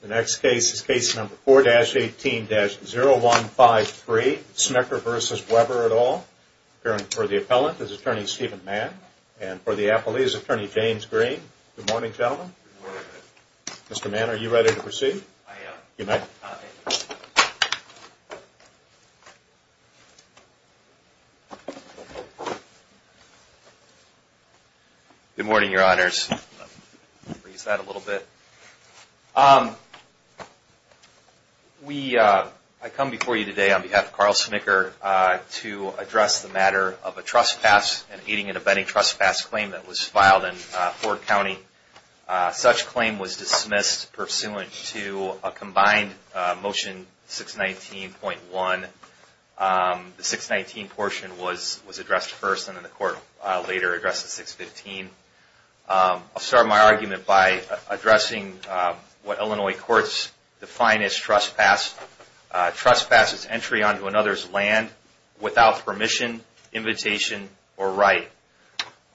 The next case is Case No. 4-18-0153, Smicker v. Weber et al., appearing for the appellant is Attorney Steven Mann, and for the appellee is Attorney James Green. Good morning, gentlemen. Mr. Mann, are you ready to proceed? I am. Good morning, Your Honors. I come before you today on behalf of Carl Smicker to address the matter of a trespass, an aiding and abetting trespass claim that was filed in Ford County. Such claim was dismissed pursuant to a combined Motion 619.1. The 619 portion was addressed first and then the court later addressed the 615. I'll start my argument by addressing what Illinois courts define as trespass. Trespass is entry onto another's land without permission, invitation, or right.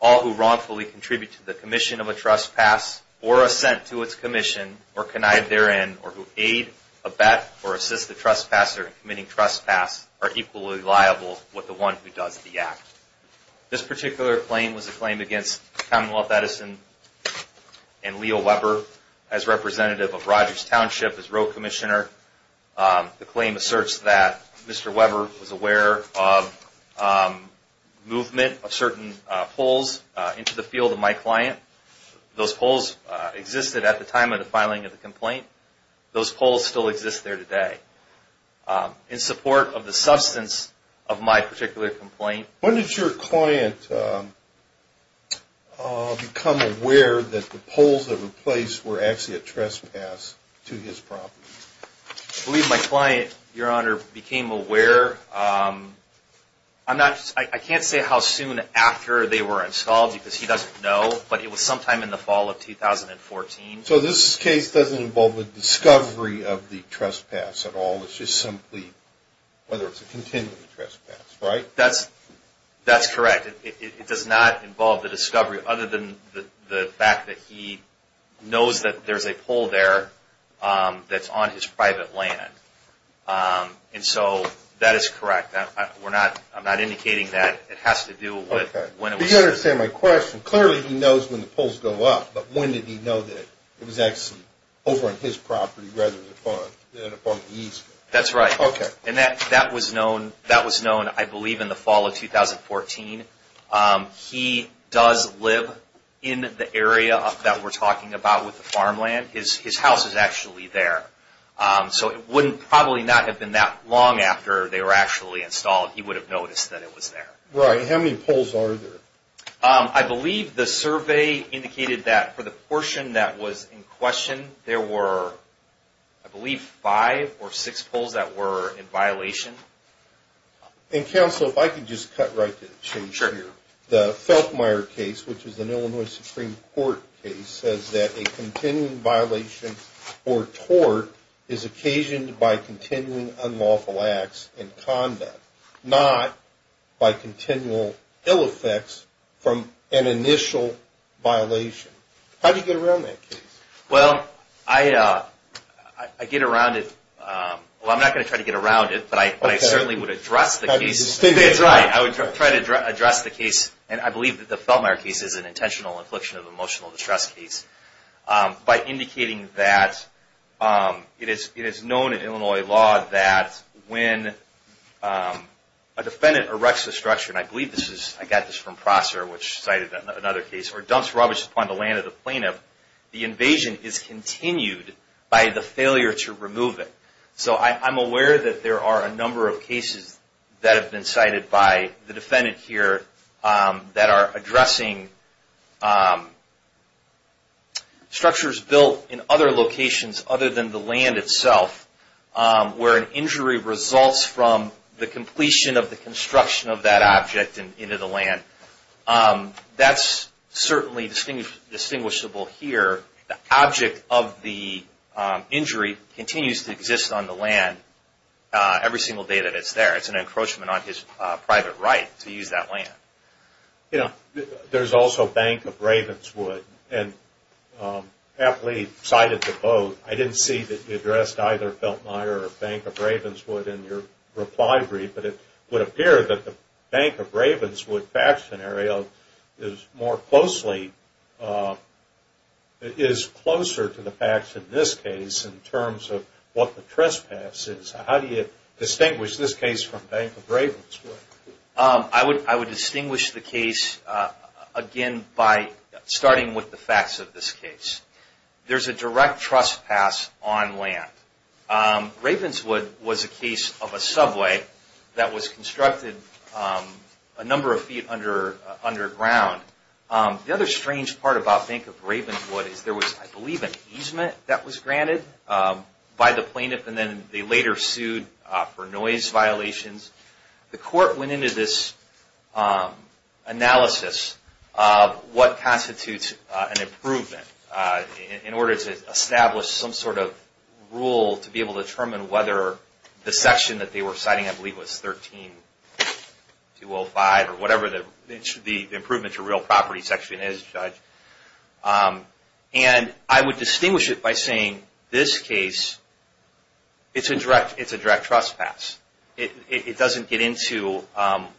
All who wrongfully contribute to the commission of a trespass, or assent to its commission, or connive therein, or who aid, abet, or assist the trespasser in committing trespass are equally liable with the one who does the act. This particular claim was a claim against Commonwealth Edison and Leo Weber as representative of Rogers Township as road commissioner. The claim asserts that Mr. Weber was aware of movement of certain poles into the field of my client. Those poles existed at the time of the filing of the complaint. Those poles still exist there today. In support of the substance of my particular complaint. When did your client become aware that the poles that were placed were actually a trespass to his property? I believe my client, Your Honor, became aware. I can't say how soon after they were installed because he doesn't know, but it was sometime in the fall of 2014. So this case doesn't involve a discovery of the trespass at all. It's just simply whether it's a continued trespass, right? That's correct. It does not involve the discovery other than the fact that he knows that there's a pole there that's on his private land. And so that is correct. I'm not indicating that it has to do with when it was installed. I don't understand my question. Clearly he knows when the poles go up, but when did he know that it was actually over on his property rather than upon the Eastman? That's right. And that was known, I believe, in the fall of 2014. He does live in the area that we're talking about with the farmland. His house is actually there. So it wouldn't probably not have been that long after they were actually installed, he would have noticed that it was there. Right. How many poles are there? I believe the survey indicated that for the portion that was in question, there were, I believe, five or six poles that were in violation. And counsel, if I could just cut right to the chase here. Sure. The Feltmire case, which is an Illinois Supreme Court case, says that a continuing violation or tort is occasioned by continuing unlawful acts in conduct, not by continual ill effects from an initial violation. How do you get around that case? Well, I get around it. Well, I'm not going to try to get around it, but I certainly would address the case. That's right. I would try to address the case. And I believe that the Feltmire case is an intentional infliction of emotional distress case. By indicating that it is known in Illinois law that when a defendant erects a structure, and I believe this is, I got this from Prosser, which cited another case, or dumps rubbish upon the land of the plaintiff, the invasion is continued by the failure to remove it. So I'm aware that there are a number of cases that have been cited by the defendant here that are addressing structures built in other locations other than the land itself, where an injury results from the completion of the construction of that object into the land. That's certainly distinguishable here. The object of the injury continues to exist on the land every single day that it's there. It's an encroachment on his private right to use that land. You know, there's also Bank of Ravenswood, and I believe cited the both. I didn't see that you addressed either Feltmire or Bank of Ravenswood in your reply brief, but it would appear that the Bank of Ravenswood fact scenario is more closely, is closer to the facts in this case in terms of what the trespass is. How do you distinguish this case from Bank of Ravenswood? I would distinguish the case, again, by starting with the facts of this case. There's a direct trespass on land. Ravenswood was a case of a subway that was constructed a number of feet underground. The other strange part about Bank of Ravenswood is there was, I believe, an easement that was granted by the plaintiff, and then they later sued for noise violations. The court went into this analysis of what constitutes an improvement in order to establish some sort of rule to be able to determine whether the section that they were citing, I believe, was 13205 or whatever the improvement to real property section is, Judge. And I would distinguish it by saying this case, it's a direct trespass. It doesn't get into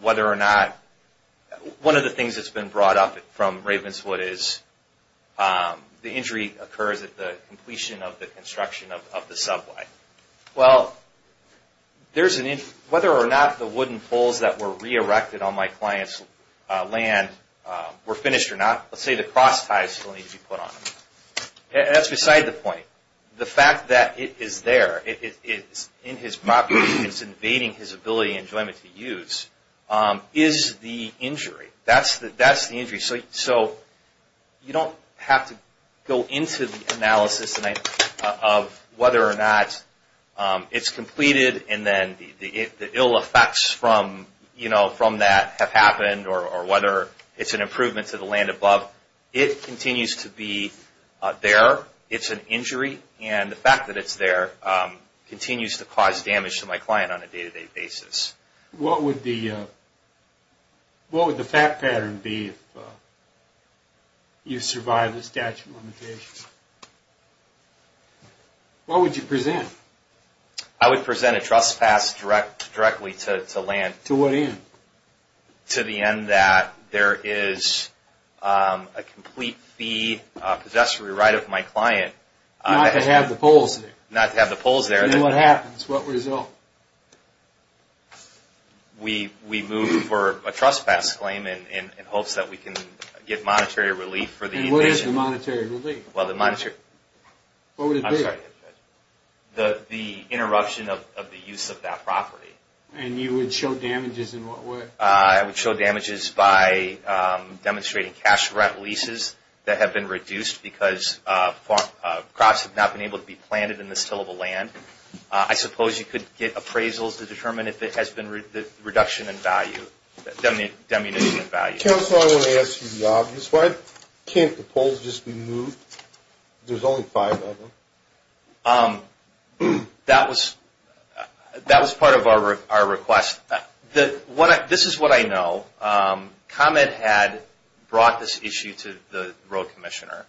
whether or not, one of the things that's been brought up from Ravenswood is the injury occurs at the completion of the construction of the subway. Well, whether or not the wooden poles that were re-erected on my client's land were finished or not, let's say the cross ties still need to be put on them. That's beside the point. The fact that it is there, it's in his property, it's invading his ability and enjoyment to use, is the injury. That's the injury. So you don't have to go into the analysis of whether or not it's completed and then the ill effects from that have happened or whether it's an improvement to the land above. It continues to be there. It's an injury. And the fact that it's there continues to cause damage to my client on a day-to-day basis. What would the fact pattern be if you survived the statute of limitations? What would you present? I would present a trespass directly to land. To what end? To the end that there is a complete fee, a possessory right of my client. Not to have the poles there. Not to have the poles there. And what happens? What result? We move for a trespass claim in hopes that we can get monetary relief for the invasion. And what is the monetary relief? Well, the monetary... What would it be? I'm sorry. The interruption of the use of that property. And you would show damages in what way? I would show damages by demonstrating cash rent leases that have been reduced because crops have not been able to be planted in this tillable land. I suppose you could get appraisals to determine if there has been a reduction in value, a diminution in value. Counselor, I want to ask you the obvious. Why can't the poles just be moved? There's only five of them. That was part of our request. This is what I know. Comet had brought this issue to the road commissioner.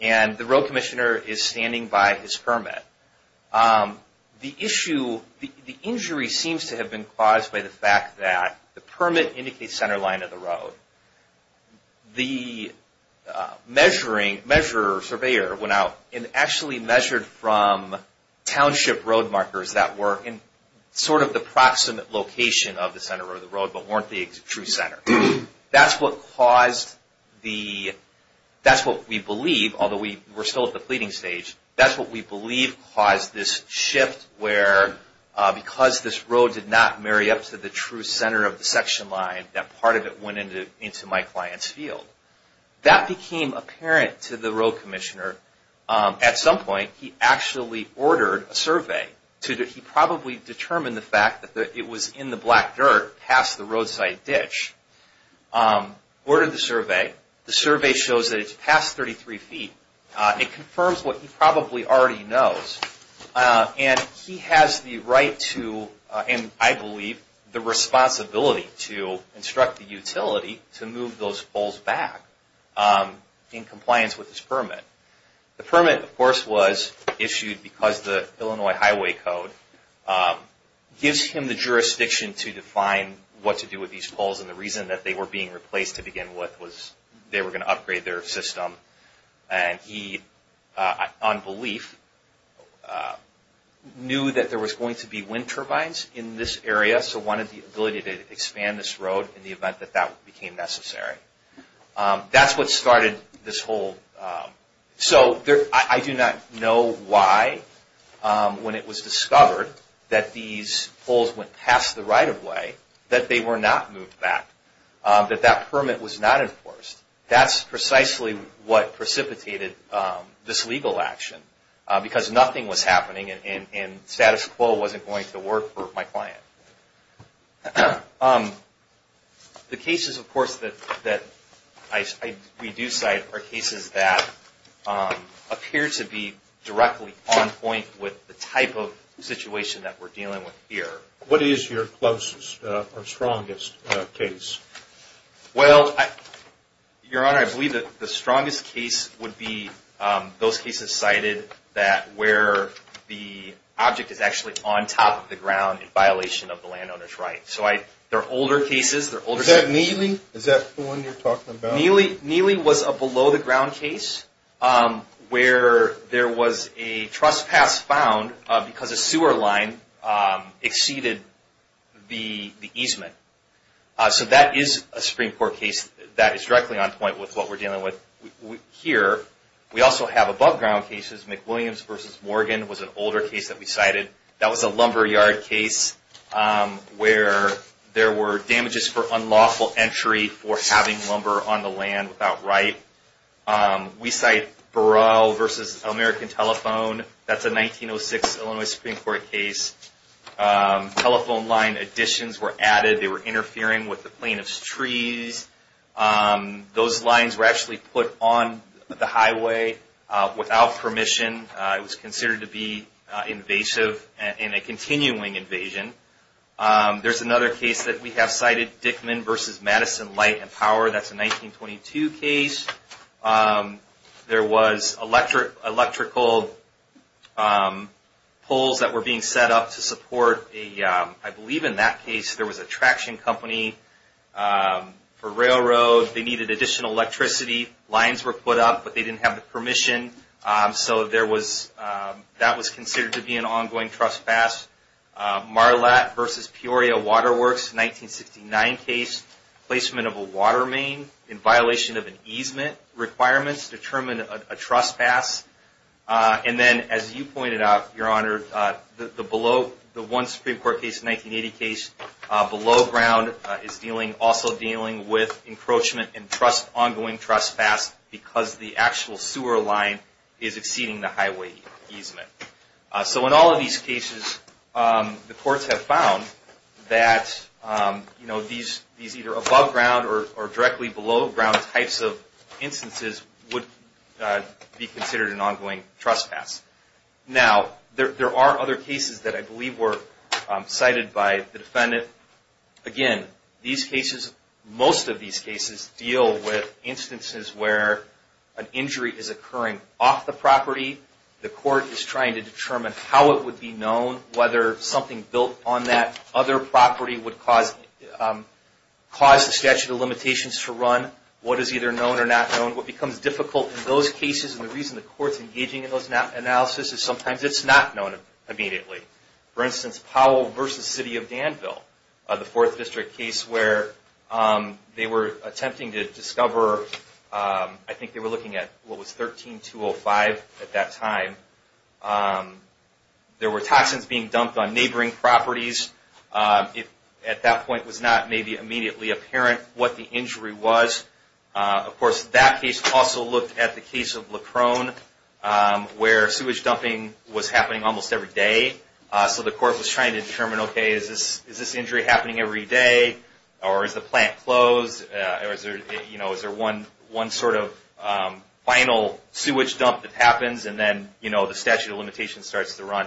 And the road commissioner is standing by his permit. The issue, the injury seems to have been caused by the fact that the permit indicates center line of the road. The measure surveyor went out and actually measured from township road markers that were in sort of the proximate location of the center of the road, but weren't the true center. That's what caused the... That's what we believe, although we're still at the pleading stage. That's what we believe caused this shift where, because this road did not marry up to the true center of the section line, that part of it went into my client's field. That became apparent to the road commissioner. At some point, he actually ordered a survey. He probably determined the fact that it was in the black dirt past the roadside ditch. Ordered the survey. The survey shows that it's past 33 feet. It confirms what he probably already knows. And he has the right to, and I believe, the responsibility to instruct the utility to move those poles back in compliance with his permit. The permit, of course, was issued because the Illinois Highway Code gives him the jurisdiction to define what to do with these poles. And the reason that they were being replaced to begin with was they were going to upgrade their system. And he, on belief, knew that there was going to be wind turbines in this area, so wanted the ability to expand this road in the event that that became necessary. That's what started this whole... So, I do not know why, when it was discovered that these poles went past the right-of-way, that they were not moved back. That that permit was not enforced. That's precisely what precipitated this legal action. Because nothing was happening and status quo wasn't going to work for my client. The cases, of course, that we do cite are cases that appear to be directly on point with the type of situation that we're dealing with here. What is your closest or strongest case? Well, Your Honor, I believe that the strongest case would be those cases cited where the object is actually on top of the ground in violation of the landowner's right. They're older cases. Is that Neely? Is that the one you're talking about? Neely was a below-the-ground case where there was a trespass found because a sewer line exceeded the easement. So, that is a Supreme Court case that is directly on point with what we're dealing with here. We also have above-ground cases. McWilliams v. Morgan was an older case that we cited. That was a lumberyard case where there were damages for unlawful entry for having lumber on the land without right. We cite Burrell v. American Telephone. That's a 1906 Illinois Supreme Court case. Telephone line additions were added. They were interfering with the plaintiff's trees. Those lines were actually put on the highway without permission. It was considered to be invasive and a continuing invasion. There's another case that we have cited, Dickman v. Madison Light and Power. That's a 1922 case. There was electrical poles that were being set up to support, I believe in that case, there was a traction company for railroad. They needed additional electricity. Lines were put up, but they didn't have the permission. So, that was considered to be an ongoing trespass. Marlatt v. Peoria Water Works, 1969 case, placement of a water main in violation of an easement requirements determined a trespass. And then, as you pointed out, Your Honor, the one Supreme Court case, 1980 case, below-ground is also dealing with encroachment and ongoing trespass because the actual sewer line is exceeding the highway easement. So, in all of these cases, the courts have found that these either above-ground or directly below-ground types of instances would be considered an ongoing trespass. Now, there are other cases that I believe were cited by the defendant. Again, these cases, most of these cases, deal with instances where an injury is occurring off the property. The court is trying to determine how it would be known, whether something built on that other property would cause the statute of limitations to run, what is either known or not known. What becomes difficult in those cases, and the reason the court is engaging in those analyses, is sometimes it's not known immediately. For instance, Powell v. City of Danville, the Fourth District case where they were attempting to discover, I think they were looking at what was 13-205 at that time, there were toxins being dumped on neighboring properties. It, at that point, was not maybe immediately apparent what the injury was. Of course, that case also looked at the case of Leckrone, where sewage dumping was happening almost every day. So the court was trying to determine, okay, is this injury happening every day, or is the plant closed, or is there one sort of final sewage dump that happens, and then the statute of limitations starts to run?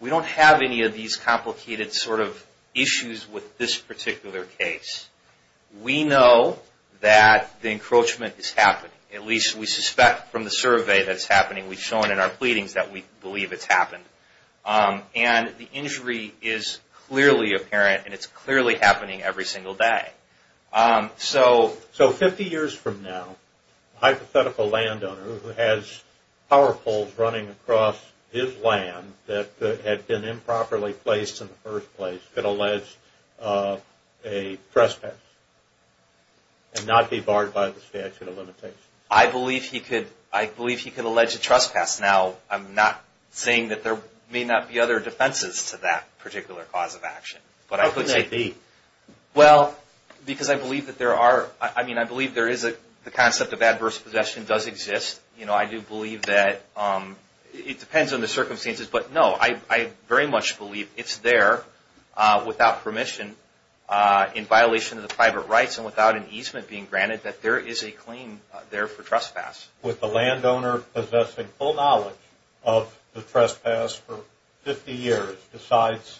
We don't have any of these complicated sort of issues with this particular case. We know that the encroachment is happening, at least we suspect from the survey that it's happening. We've shown in our pleadings that we believe it's happened. And the injury is clearly apparent, and it's clearly happening every single day. So 50 years from now, a hypothetical landowner who has power poles running across his land that had been improperly placed in the first place could allege a trespass and not be barred by the statute of limitations? I believe he could. I believe he could allege a trespass. Now, I'm not saying that there may not be other defenses to that particular cause of action. How could they be? Well, because I believe that there are, I mean, I believe there is a concept of adverse possession does exist. You know, I do believe that it depends on the circumstances. But no, I very much believe it's there without permission in violation of the private rights and without an easement being granted that there is a claim there for trespass. Would the landowner possessing full knowledge of the trespass for 50 years decides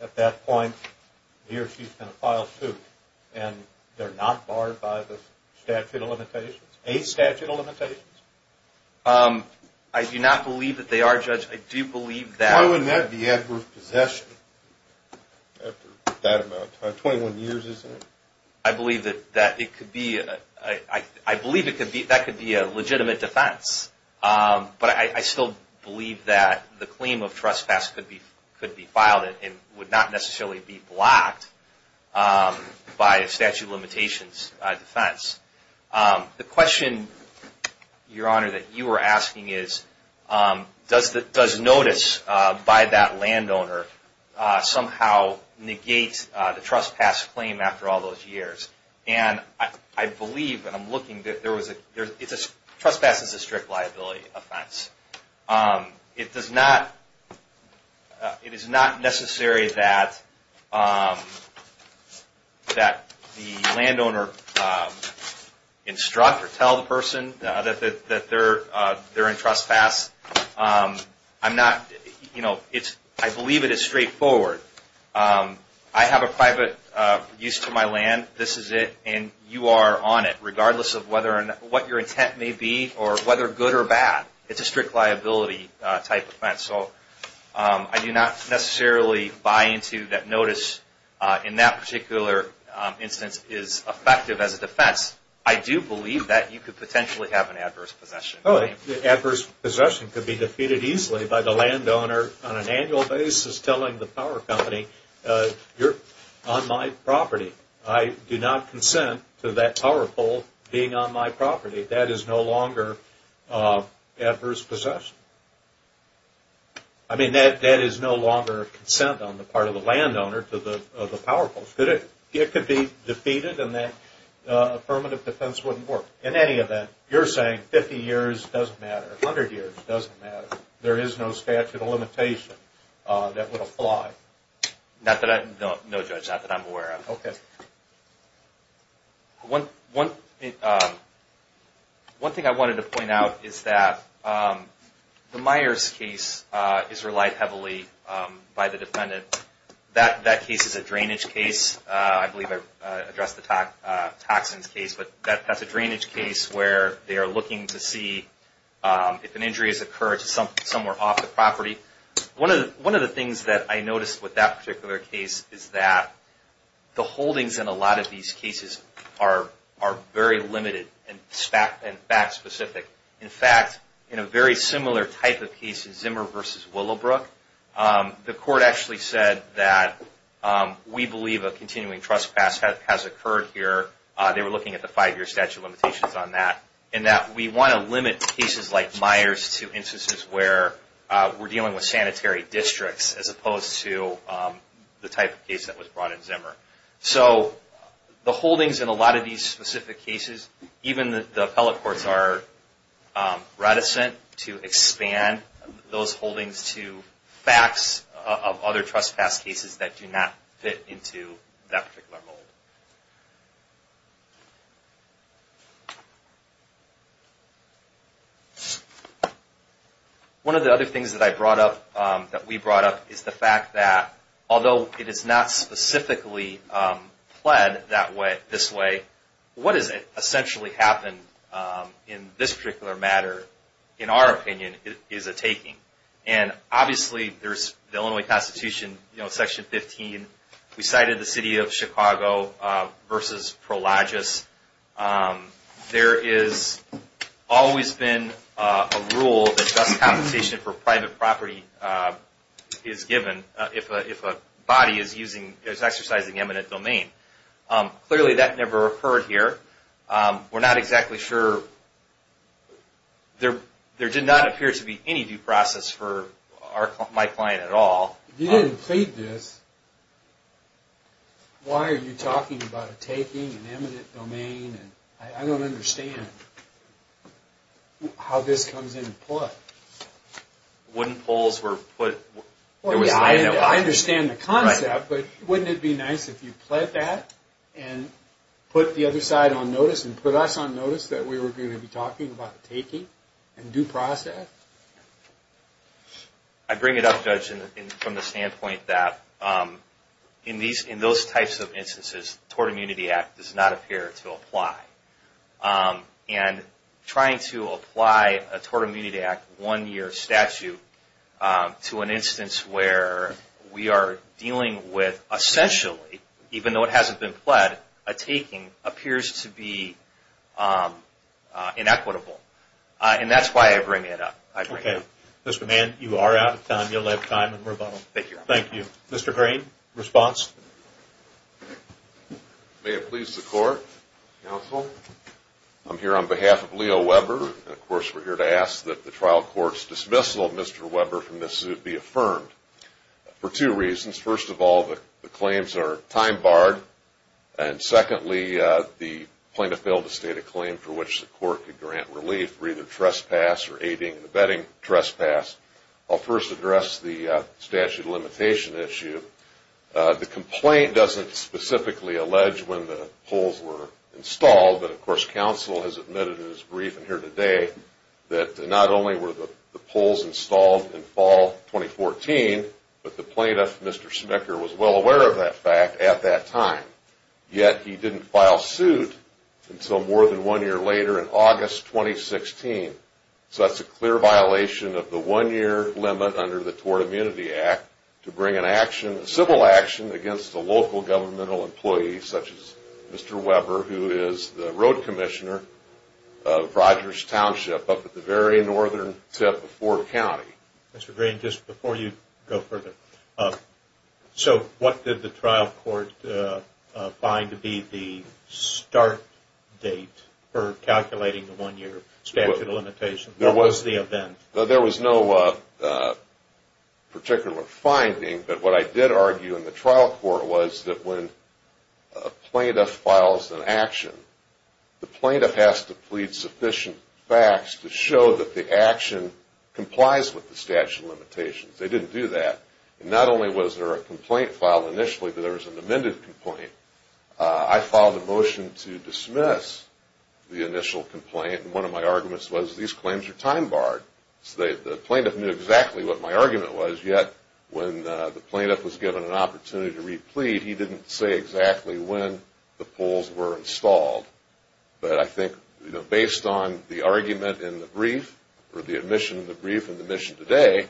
at that point he or she's going to file suit and they're not barred by the statute of limitations, a statute of limitations? I do not believe that they are, Judge. I do believe that. Why wouldn't that be adverse possession after that amount of time, 21 years, isn't it? I believe that it could be, I believe that could be a legitimate defense. But I still believe that the claim of trespass could be filed and would not necessarily be blocked by a statute of limitations defense. The question, Your Honor, that you were asking is, does notice by that landowner somehow negate the trespass claim after all those years? And I believe, and I'm looking, that there was a, trespass is a strict liability offense. It does not, it is not necessary that the landowner instruct or tell the person that they're in trespass. I'm not, you know, I believe it is straightforward. I have a private use to my land, this is it, and you are on it, regardless of what your intent may be or whether good or bad. It's a strict liability type offense. So I do not necessarily buy into that notice in that particular instance is effective as a defense. I do believe that you could potentially have an adverse possession. Oh, adverse possession could be defeated easily by the landowner on an annual basis telling the power company, you're on my property. I do not consent to that power pole being on my property. That is no longer adverse possession. I mean, that is no longer consent on the part of the landowner to the power pole. It could be defeated and that affirmative defense wouldn't work. In any event, you're saying 50 years doesn't matter, 100 years doesn't matter. There is no statute of limitation that would apply. Not that I, no, Judge, not that I'm aware of. Okay. One thing I wanted to point out is that the Myers case is relied heavily by the defendant. That case is a drainage case. I believe I addressed the Toxins case, but that's a drainage case where they are looking to see if an injury has occurred somewhere off the property. One of the things that I noticed with that particular case is that the holdings in a lot of these cases are very limited and fact specific. In fact, in a very similar type of case, Zimmer v. Willowbrook, the court actually said that we believe a continuing trespass has occurred here. They were looking at the five-year statute of limitations on that. And that we want to limit cases like Myers to instances where we're dealing with sanitary districts as opposed to the type of case that was brought in Zimmer. So the holdings in a lot of these specific cases, even the appellate courts are reticent to expand those holdings to facts of other trespass cases that do not fit into that particular mold. One of the other things that I brought up, that we brought up, is the fact that although it is not specifically pled this way, what has essentially happened in this particular matter, in our opinion, is a taking. And obviously, there's the Illinois Constitution, Section 15. We cited the city of Chicago v. Prologis. There has always been a rule that just compensation for private property is given if a body is exercising eminent domain. Clearly, that never occurred here. We're not exactly sure. There did not appear to be any due process for my client at all. If you didn't plead this, why are you talking about a taking, an eminent domain? I don't understand how this comes into play. I understand the concept, but wouldn't it be nice if you pled that and put the other side on notice and put us on notice that we were going to be talking about the taking and due process? I bring it up, Judge, from the standpoint that in those types of instances, the Tort Immunity Act does not appear to apply. And trying to apply a Tort Immunity Act one-year statute to an instance where we are dealing with essentially, even though it hasn't been pled, a taking appears to be inequitable. And that's why I bring it up. Okay. Mr. Mann, you are out of time. You'll have time in rebuttal. Thank you. Thank you. Mr. Green, response? May it please the Court, Counsel. I'm here on behalf of Leo Weber. Of course, we're here to ask that the trial court's dismissal of Mr. Weber from this suit be affirmed for two reasons. First of all, the claims are time barred. And secondly, the plaintiff failed to state a claim for which the court could grant relief for either trespass or aiding and abetting trespass. I'll first address the statute of limitation issue. The complaint doesn't specifically allege when the poles were installed. But, of course, Counsel has admitted in his briefing here today that not only were the poles installed in fall 2014, but the plaintiff, Mr. Smicker, was well aware of that fact at that time. Yet, he didn't file suit until more than one year later in August 2016. So that's a clear violation of the one-year limit under the Tort Immunity Act to bring civil action against a local governmental employee such as Mr. Weber, who is the road commissioner of Rogers Township up at the very northern tip of Ford County. Mr. Green, just before you go further, so what did the trial court find to be the start date for calculating the one-year statute? There was no particular finding, but what I did argue in the trial court was that when a plaintiff files an action, the plaintiff has to plead sufficient facts to show that the action complies with the statute of limitations. They didn't do that. And not only was there a complaint filed initially, but there was an amended complaint. I filed a motion to dismiss the initial complaint, and one of my arguments was these claims are time-barred. So the plaintiff knew exactly what my argument was, yet when the plaintiff was given an opportunity to re-plead, he didn't say exactly when the poles were installed. But I think, you know, based on the argument in the brief or the admission of the brief in the mission today,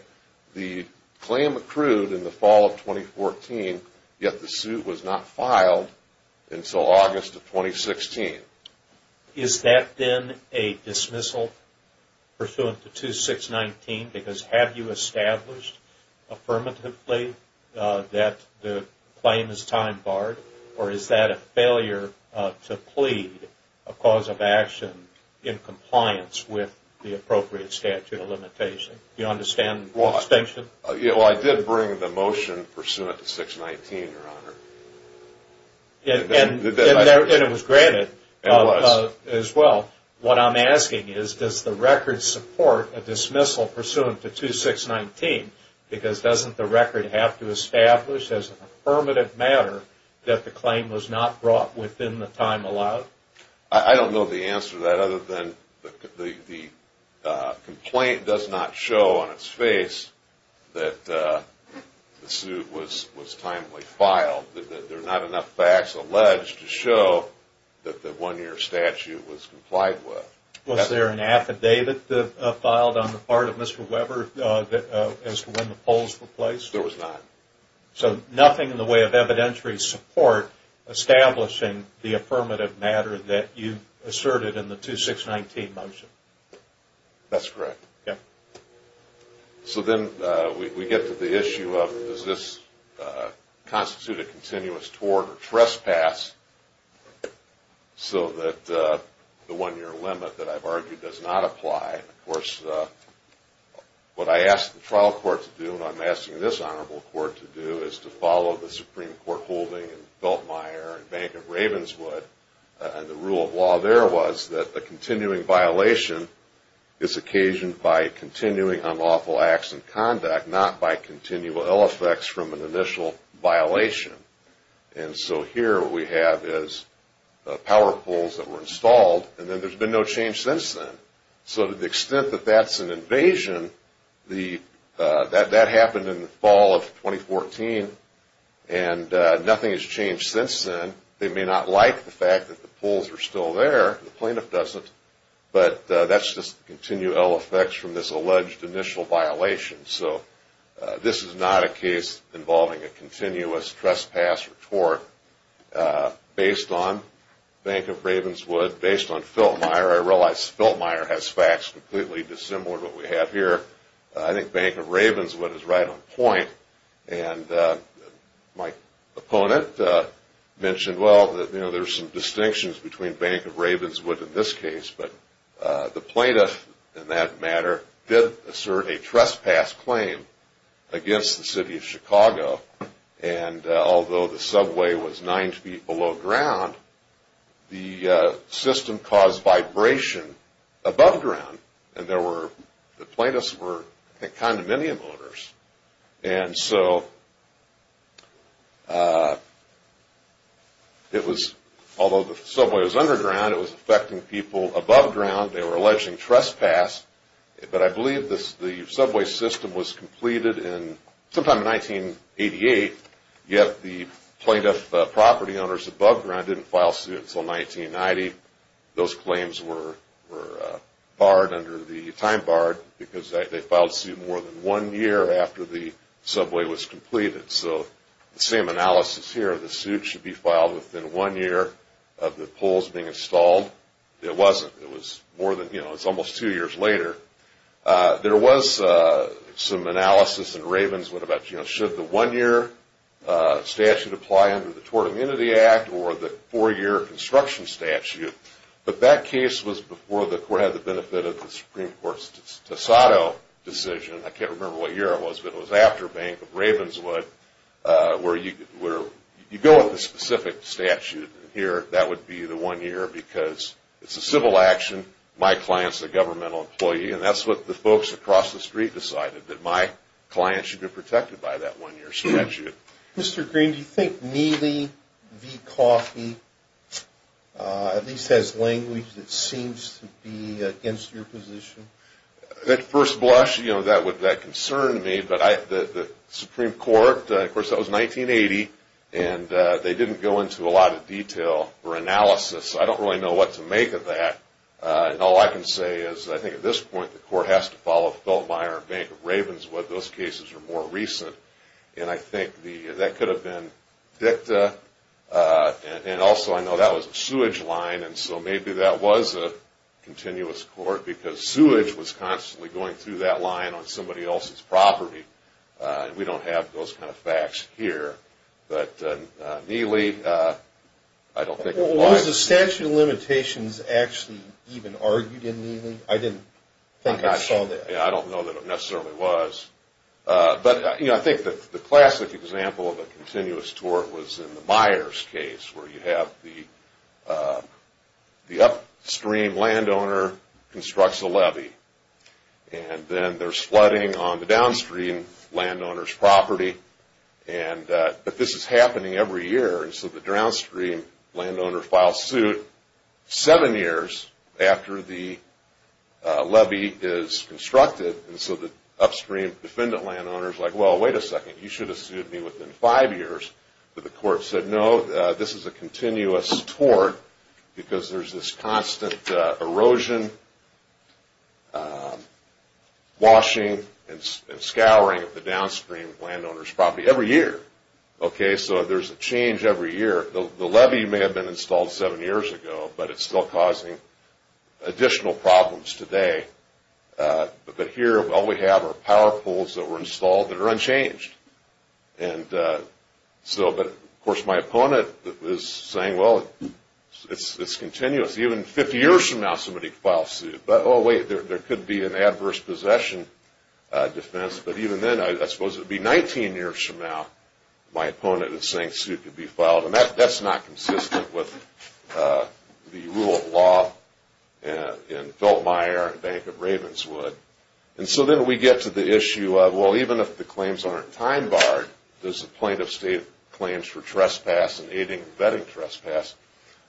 the claim accrued in the fall of 2014, yet the suit was not filed until August of 2016. Is that then a dismissal pursuant to 2619? Because have you established affirmatively that the claim is time-barred, or is that a failure to plead a cause of action in compliance with the appropriate statute of limitations? Do you understand the distinction? Well, I did bring the motion pursuant to 619, Your Honor. And it was granted as well. What I'm asking is, does the record support a dismissal pursuant to 2619? Because doesn't the record have to establish as an affirmative matter that the claim was not brought within the time allowed? I don't know the answer to that other than the complaint does not show on its face that the suit was timely filed. There are not enough facts alleged to show that the one-year statute was complied with. Was there an affidavit filed on the part of Mr. Weber as to when the poles were placed? There was not. So nothing in the way of evidentiary support establishing the affirmative matter that you asserted in the 2619 motion? That's correct. So then we get to the issue of, does this constitute a continuous tort or trespass so that the one-year limit that I've argued does not apply? Of course, what I asked the trial court to do and what I'm asking this honorable court to do is to follow the Supreme Court holding in Feltmire and Bank of Ravenswood. And the rule of law there was that a continuing violation is occasioned by continuing unlawful acts and conduct, not by continual ill effects from an initial violation. And so here what we have is power poles that were installed, and then there's been no change since then. So to the extent that that's an invasion, that happened in the fall of 2014, and nothing has changed since then. They may not like the fact that the poles are still there, the plaintiff doesn't, but that's just continual ill effects from this alleged initial violation. So this is not a case involving a continuous trespass or tort. Based on Bank of Ravenswood, based on Feltmire, I realize Feltmire has facts completely dissimilar to what we have here. I think Bank of Ravenswood is right on point. And my opponent mentioned, well, there's some distinctions between Bank of Ravenswood in this case, but the plaintiff, in that matter, did assert a trespass claim against the city of Chicago. And although the subway was nine feet below ground, the system caused vibration above ground, and the plaintiffs were, I think, condominium owners. And so it was, although the subway was underground, it was affecting people above ground. They were alleging trespass, but I believe the subway system was completed sometime in 1988, yet the plaintiff property owners above ground didn't file suit until 1990. Those claims were barred under the time bar because they filed suit more than one year after the subway was completed. So the same analysis here, the suit should be filed within one year of the poles being installed. It wasn't. It was more than, you know, it's almost two years later. There was some analysis in Ravenswood about, you know, should the one-year statute apply under the Tort Immunity Act or the four-year construction statute, but that case was before the court had the benefit of the Supreme Court's Tassado decision. I can't remember what year it was, but it was after Bank of Ravenswood where you go with a specific statute. Here, that would be the one year because it's a civil action. My client's a governmental employee, and that's what the folks across the street decided, that my client should be protected by that one-year statute. Mr. Green, do you think Neely v. Coffey at least has language that seems to be against your position? At first blush, you know, that concerned me, but the Supreme Court, of course, that was 1980, and they didn't go into a lot of detail or analysis. I don't really know what to make of that, and all I can say is I think at this point, the court has to follow Feltmire and Bank of Ravenswood. Those cases are more recent, and I think that could have been dicta, and also I know that was a sewage line, and so maybe that was a continuous court because sewage was constantly going through that line on somebody else's property. We don't have those kind of facts here, but Neely, I don't think it applies. Was the statute of limitations actually even argued in Neely? I didn't think I saw that. I don't know that it necessarily was, but I think the classic example of a continuous tort was in the Myers case where you have the upstream landowner constructs a levee, and then there's flooding on the downstream landowner's property, but this is happening every year, and so the downstream landowner files suit seven years after the levee is constructed, and so the upstream defendant landowner is like, well, wait a second, you should have sued me within five years, but the court said no, this is a continuous tort because there's this constant erosion, washing, and scouring of the downstream landowner's property every year, so there's a change every year. The levee may have been installed seven years ago, but it's still causing additional problems today, but here all we have are power poles that were installed that are unchanged, and so, of course, my opponent is saying, well, it's continuous. Even 50 years from now, somebody could file suit. Oh, wait, there could be an adverse possession defense, but even then, I suppose it would be 19 years from now, my opponent is saying a suit could be filed, and that's not consistent with the rule of law in Feltmire and Bank of Ravenswood, and so then we get to the issue of, well, even if the claims aren't time-barred, does the plaintiff state claims for trespass and aiding and abetting trespass?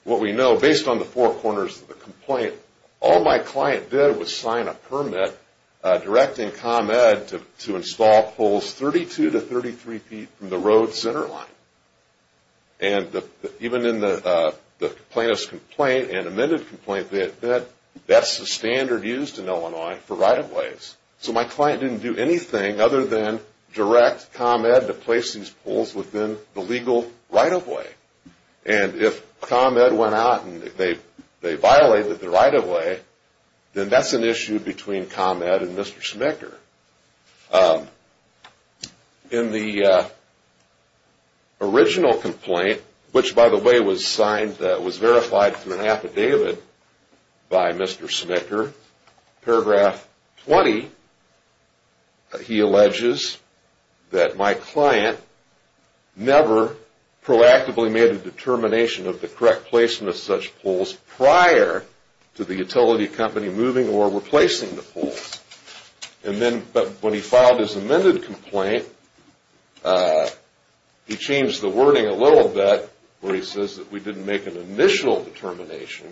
What we know, based on the four corners of the complaint, all my client did was sign a permit directing ComEd to install poles 32 to 33 feet from the road's center line, and even in the plaintiff's complaint and amended complaint, that's the standard used in Illinois for right-of-ways, so my client didn't do anything other than direct ComEd to place these poles within the legal right-of-way, and if ComEd went out and they violated the right-of-way, then that's an issue between ComEd and Mr. Schmicker. In the original complaint, which, by the way, was verified through an affidavit by Mr. Schmicker, paragraph 20, he alleges that my client never proactively made a determination of the correct placement of such poles prior to the utility company moving or replacing the poles, but when he filed his amended complaint, he changed the wording a little bit where he says that we didn't make an initial determination,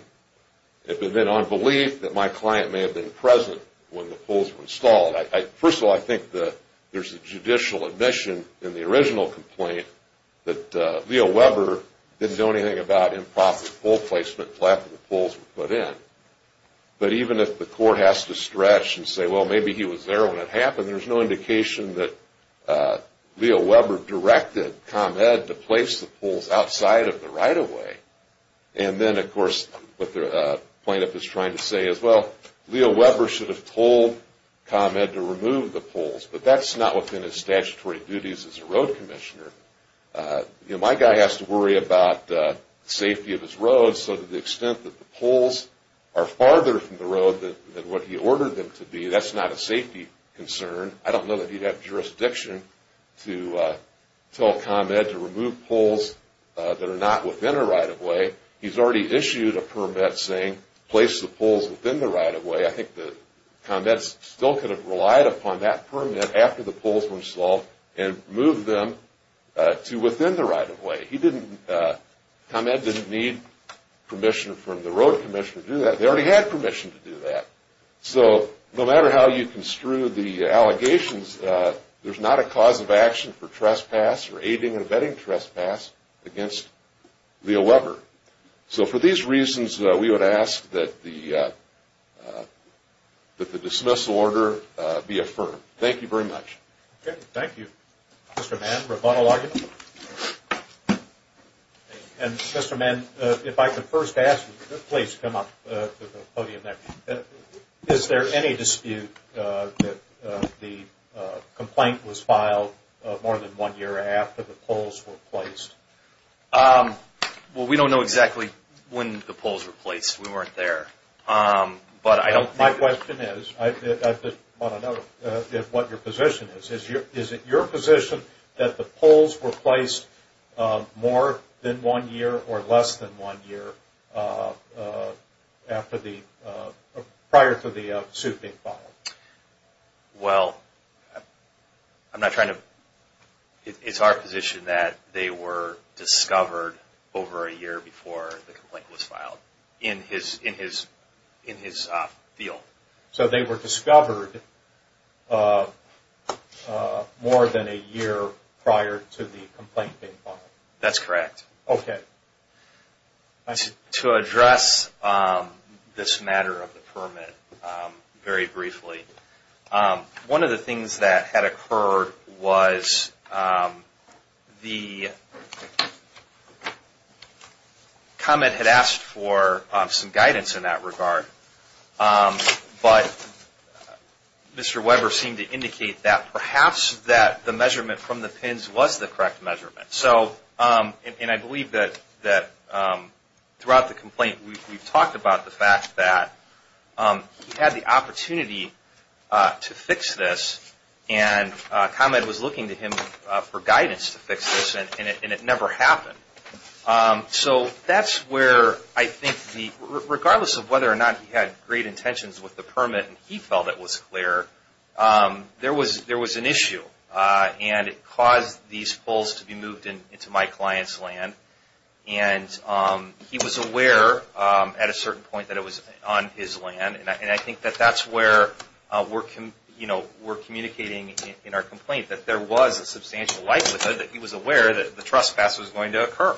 but then on belief that my client may have been present when the poles were installed. First of all, I think there's a judicial admission in the original complaint that Leo Weber didn't do anything about improper pole placement prior to the poles were put in, but even if the court has to stretch and say, well, maybe he was there when it happened, there's no indication that Leo Weber directed ComEd to place the poles outside of the right-of-way, and then, of course, what the plaintiff is trying to say is, well, Leo Weber should have told ComEd to remove the poles, but that's not within his statutory duties as a road commissioner. My guy has to worry about the safety of his roads, so to the extent that the poles are farther from the road than what he ordered them to be, that's not a safety concern. I don't know that he'd have jurisdiction to tell ComEd to remove poles that are not within a right-of-way. He's already issued a permit saying place the poles within the right-of-way. I think that ComEd still could have relied upon that permit after the poles were installed and moved them to within the right-of-way. ComEd didn't need permission from the road commissioner to do that. They already had permission to do that. So no matter how you construe the allegations, there's not a cause of action for trespass or aiding and abetting trespass against Leo Weber. So for these reasons, we would ask that the dismissal order be affirmed. Thank you very much. Okay. Thank you. Mr. Mann, rebuttal argument? Mr. Mann, if I could first ask you to please come up to the podium next. Is there any dispute that the complaint was filed more than one year after the poles were placed? Well, we don't know exactly when the poles were placed. We weren't there. My question is, I don't know what your position is. Is it your position that the poles were placed more than one year or less than one year prior to the suit being filed? Well, it's our position that they were discovered over a year before the complaint was filed. In his field. So they were discovered more than a year prior to the complaint being filed? That's correct. Okay. To address this matter of the permit very briefly, one of the things that had occurred was the comment had asked for some guidance in that regard. But Mr. Weber seemed to indicate that perhaps that the measurement from the pins was the correct measurement. And I believe that throughout the complaint we've talked about the fact that he had the opportunity to fix this and ComEd was looking to him for guidance to fix this and it never happened. So that's where I think regardless of whether or not he had great intentions with the permit and he felt it was clear, there was an issue. And it caused these poles to be moved into my client's land. And he was aware at a certain point that it was on his land. And I think that that's where we're communicating in our complaint that there was a substantial likelihood that he was aware that the trespass was going to occur.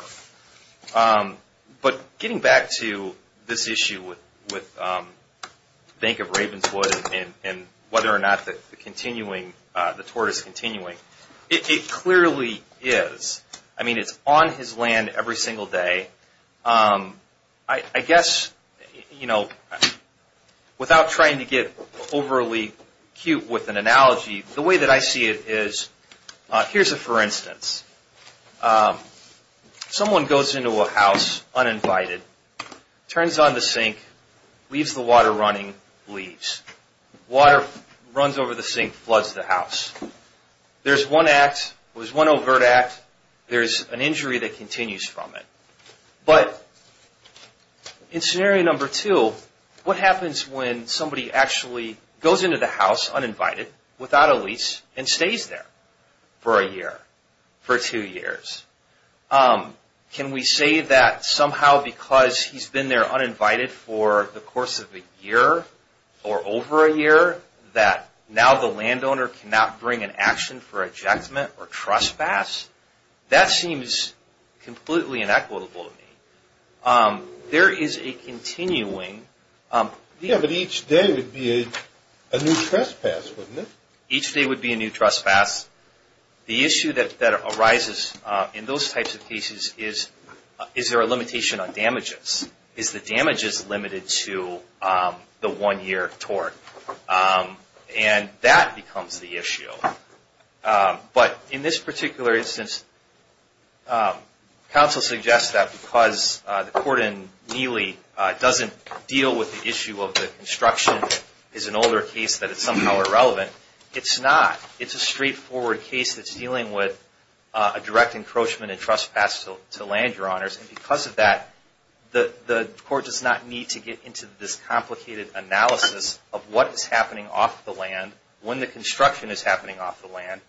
But getting back to this issue with Bank of Ravenswood and whether or not the tortoise is continuing, it clearly is. I mean, it's on his land every single day. I guess, you know, without trying to get overly cute with an analogy, the way that I see it is, here's a for instance. Someone goes into a house uninvited, turns on the sink, leaves the water running, leaves. Water runs over the sink, floods the house. There's one act, there's one overt act, there's an injury that continues from it. But in scenario number two, what happens when somebody actually goes into the house uninvited without a lease and stays there for a year? For two years? Can we say that somehow because he's been there uninvited for the course of a year or over a year, that now the landowner cannot bring an action for ejectment or trespass? That seems completely inequitable to me. There is a continuing. Yeah, but each day would be a new trespass, wouldn't it? Each day would be a new trespass. The issue that arises in those types of cases is, is there a limitation on damages? Is the damages limited to the one-year tort? And that becomes the issue. But in this particular instance, counsel suggests that because the court in Neely doesn't deal with the issue of the construction is an older case that is somehow irrelevant. It's not. It's a straightforward case that's dealing with a direct encroachment and trespass to land, Your Honors. And because of that, the court does not need to get into this complicated analysis of what is happening off the land, when the construction is happening off the land,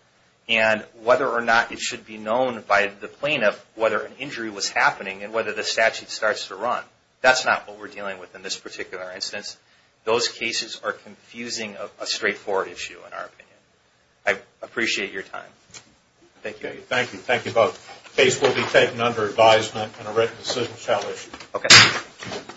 and whether or not it should be known by the plaintiff whether an injury was happening and whether the statute starts to run. That's not what we're dealing with in this particular instance. Those cases are confusing of a straightforward issue, in our opinion. I appreciate your time. Thank you. Thank you. Thank you both. The case will be taken under advisement and a written decision shall issue. Okay.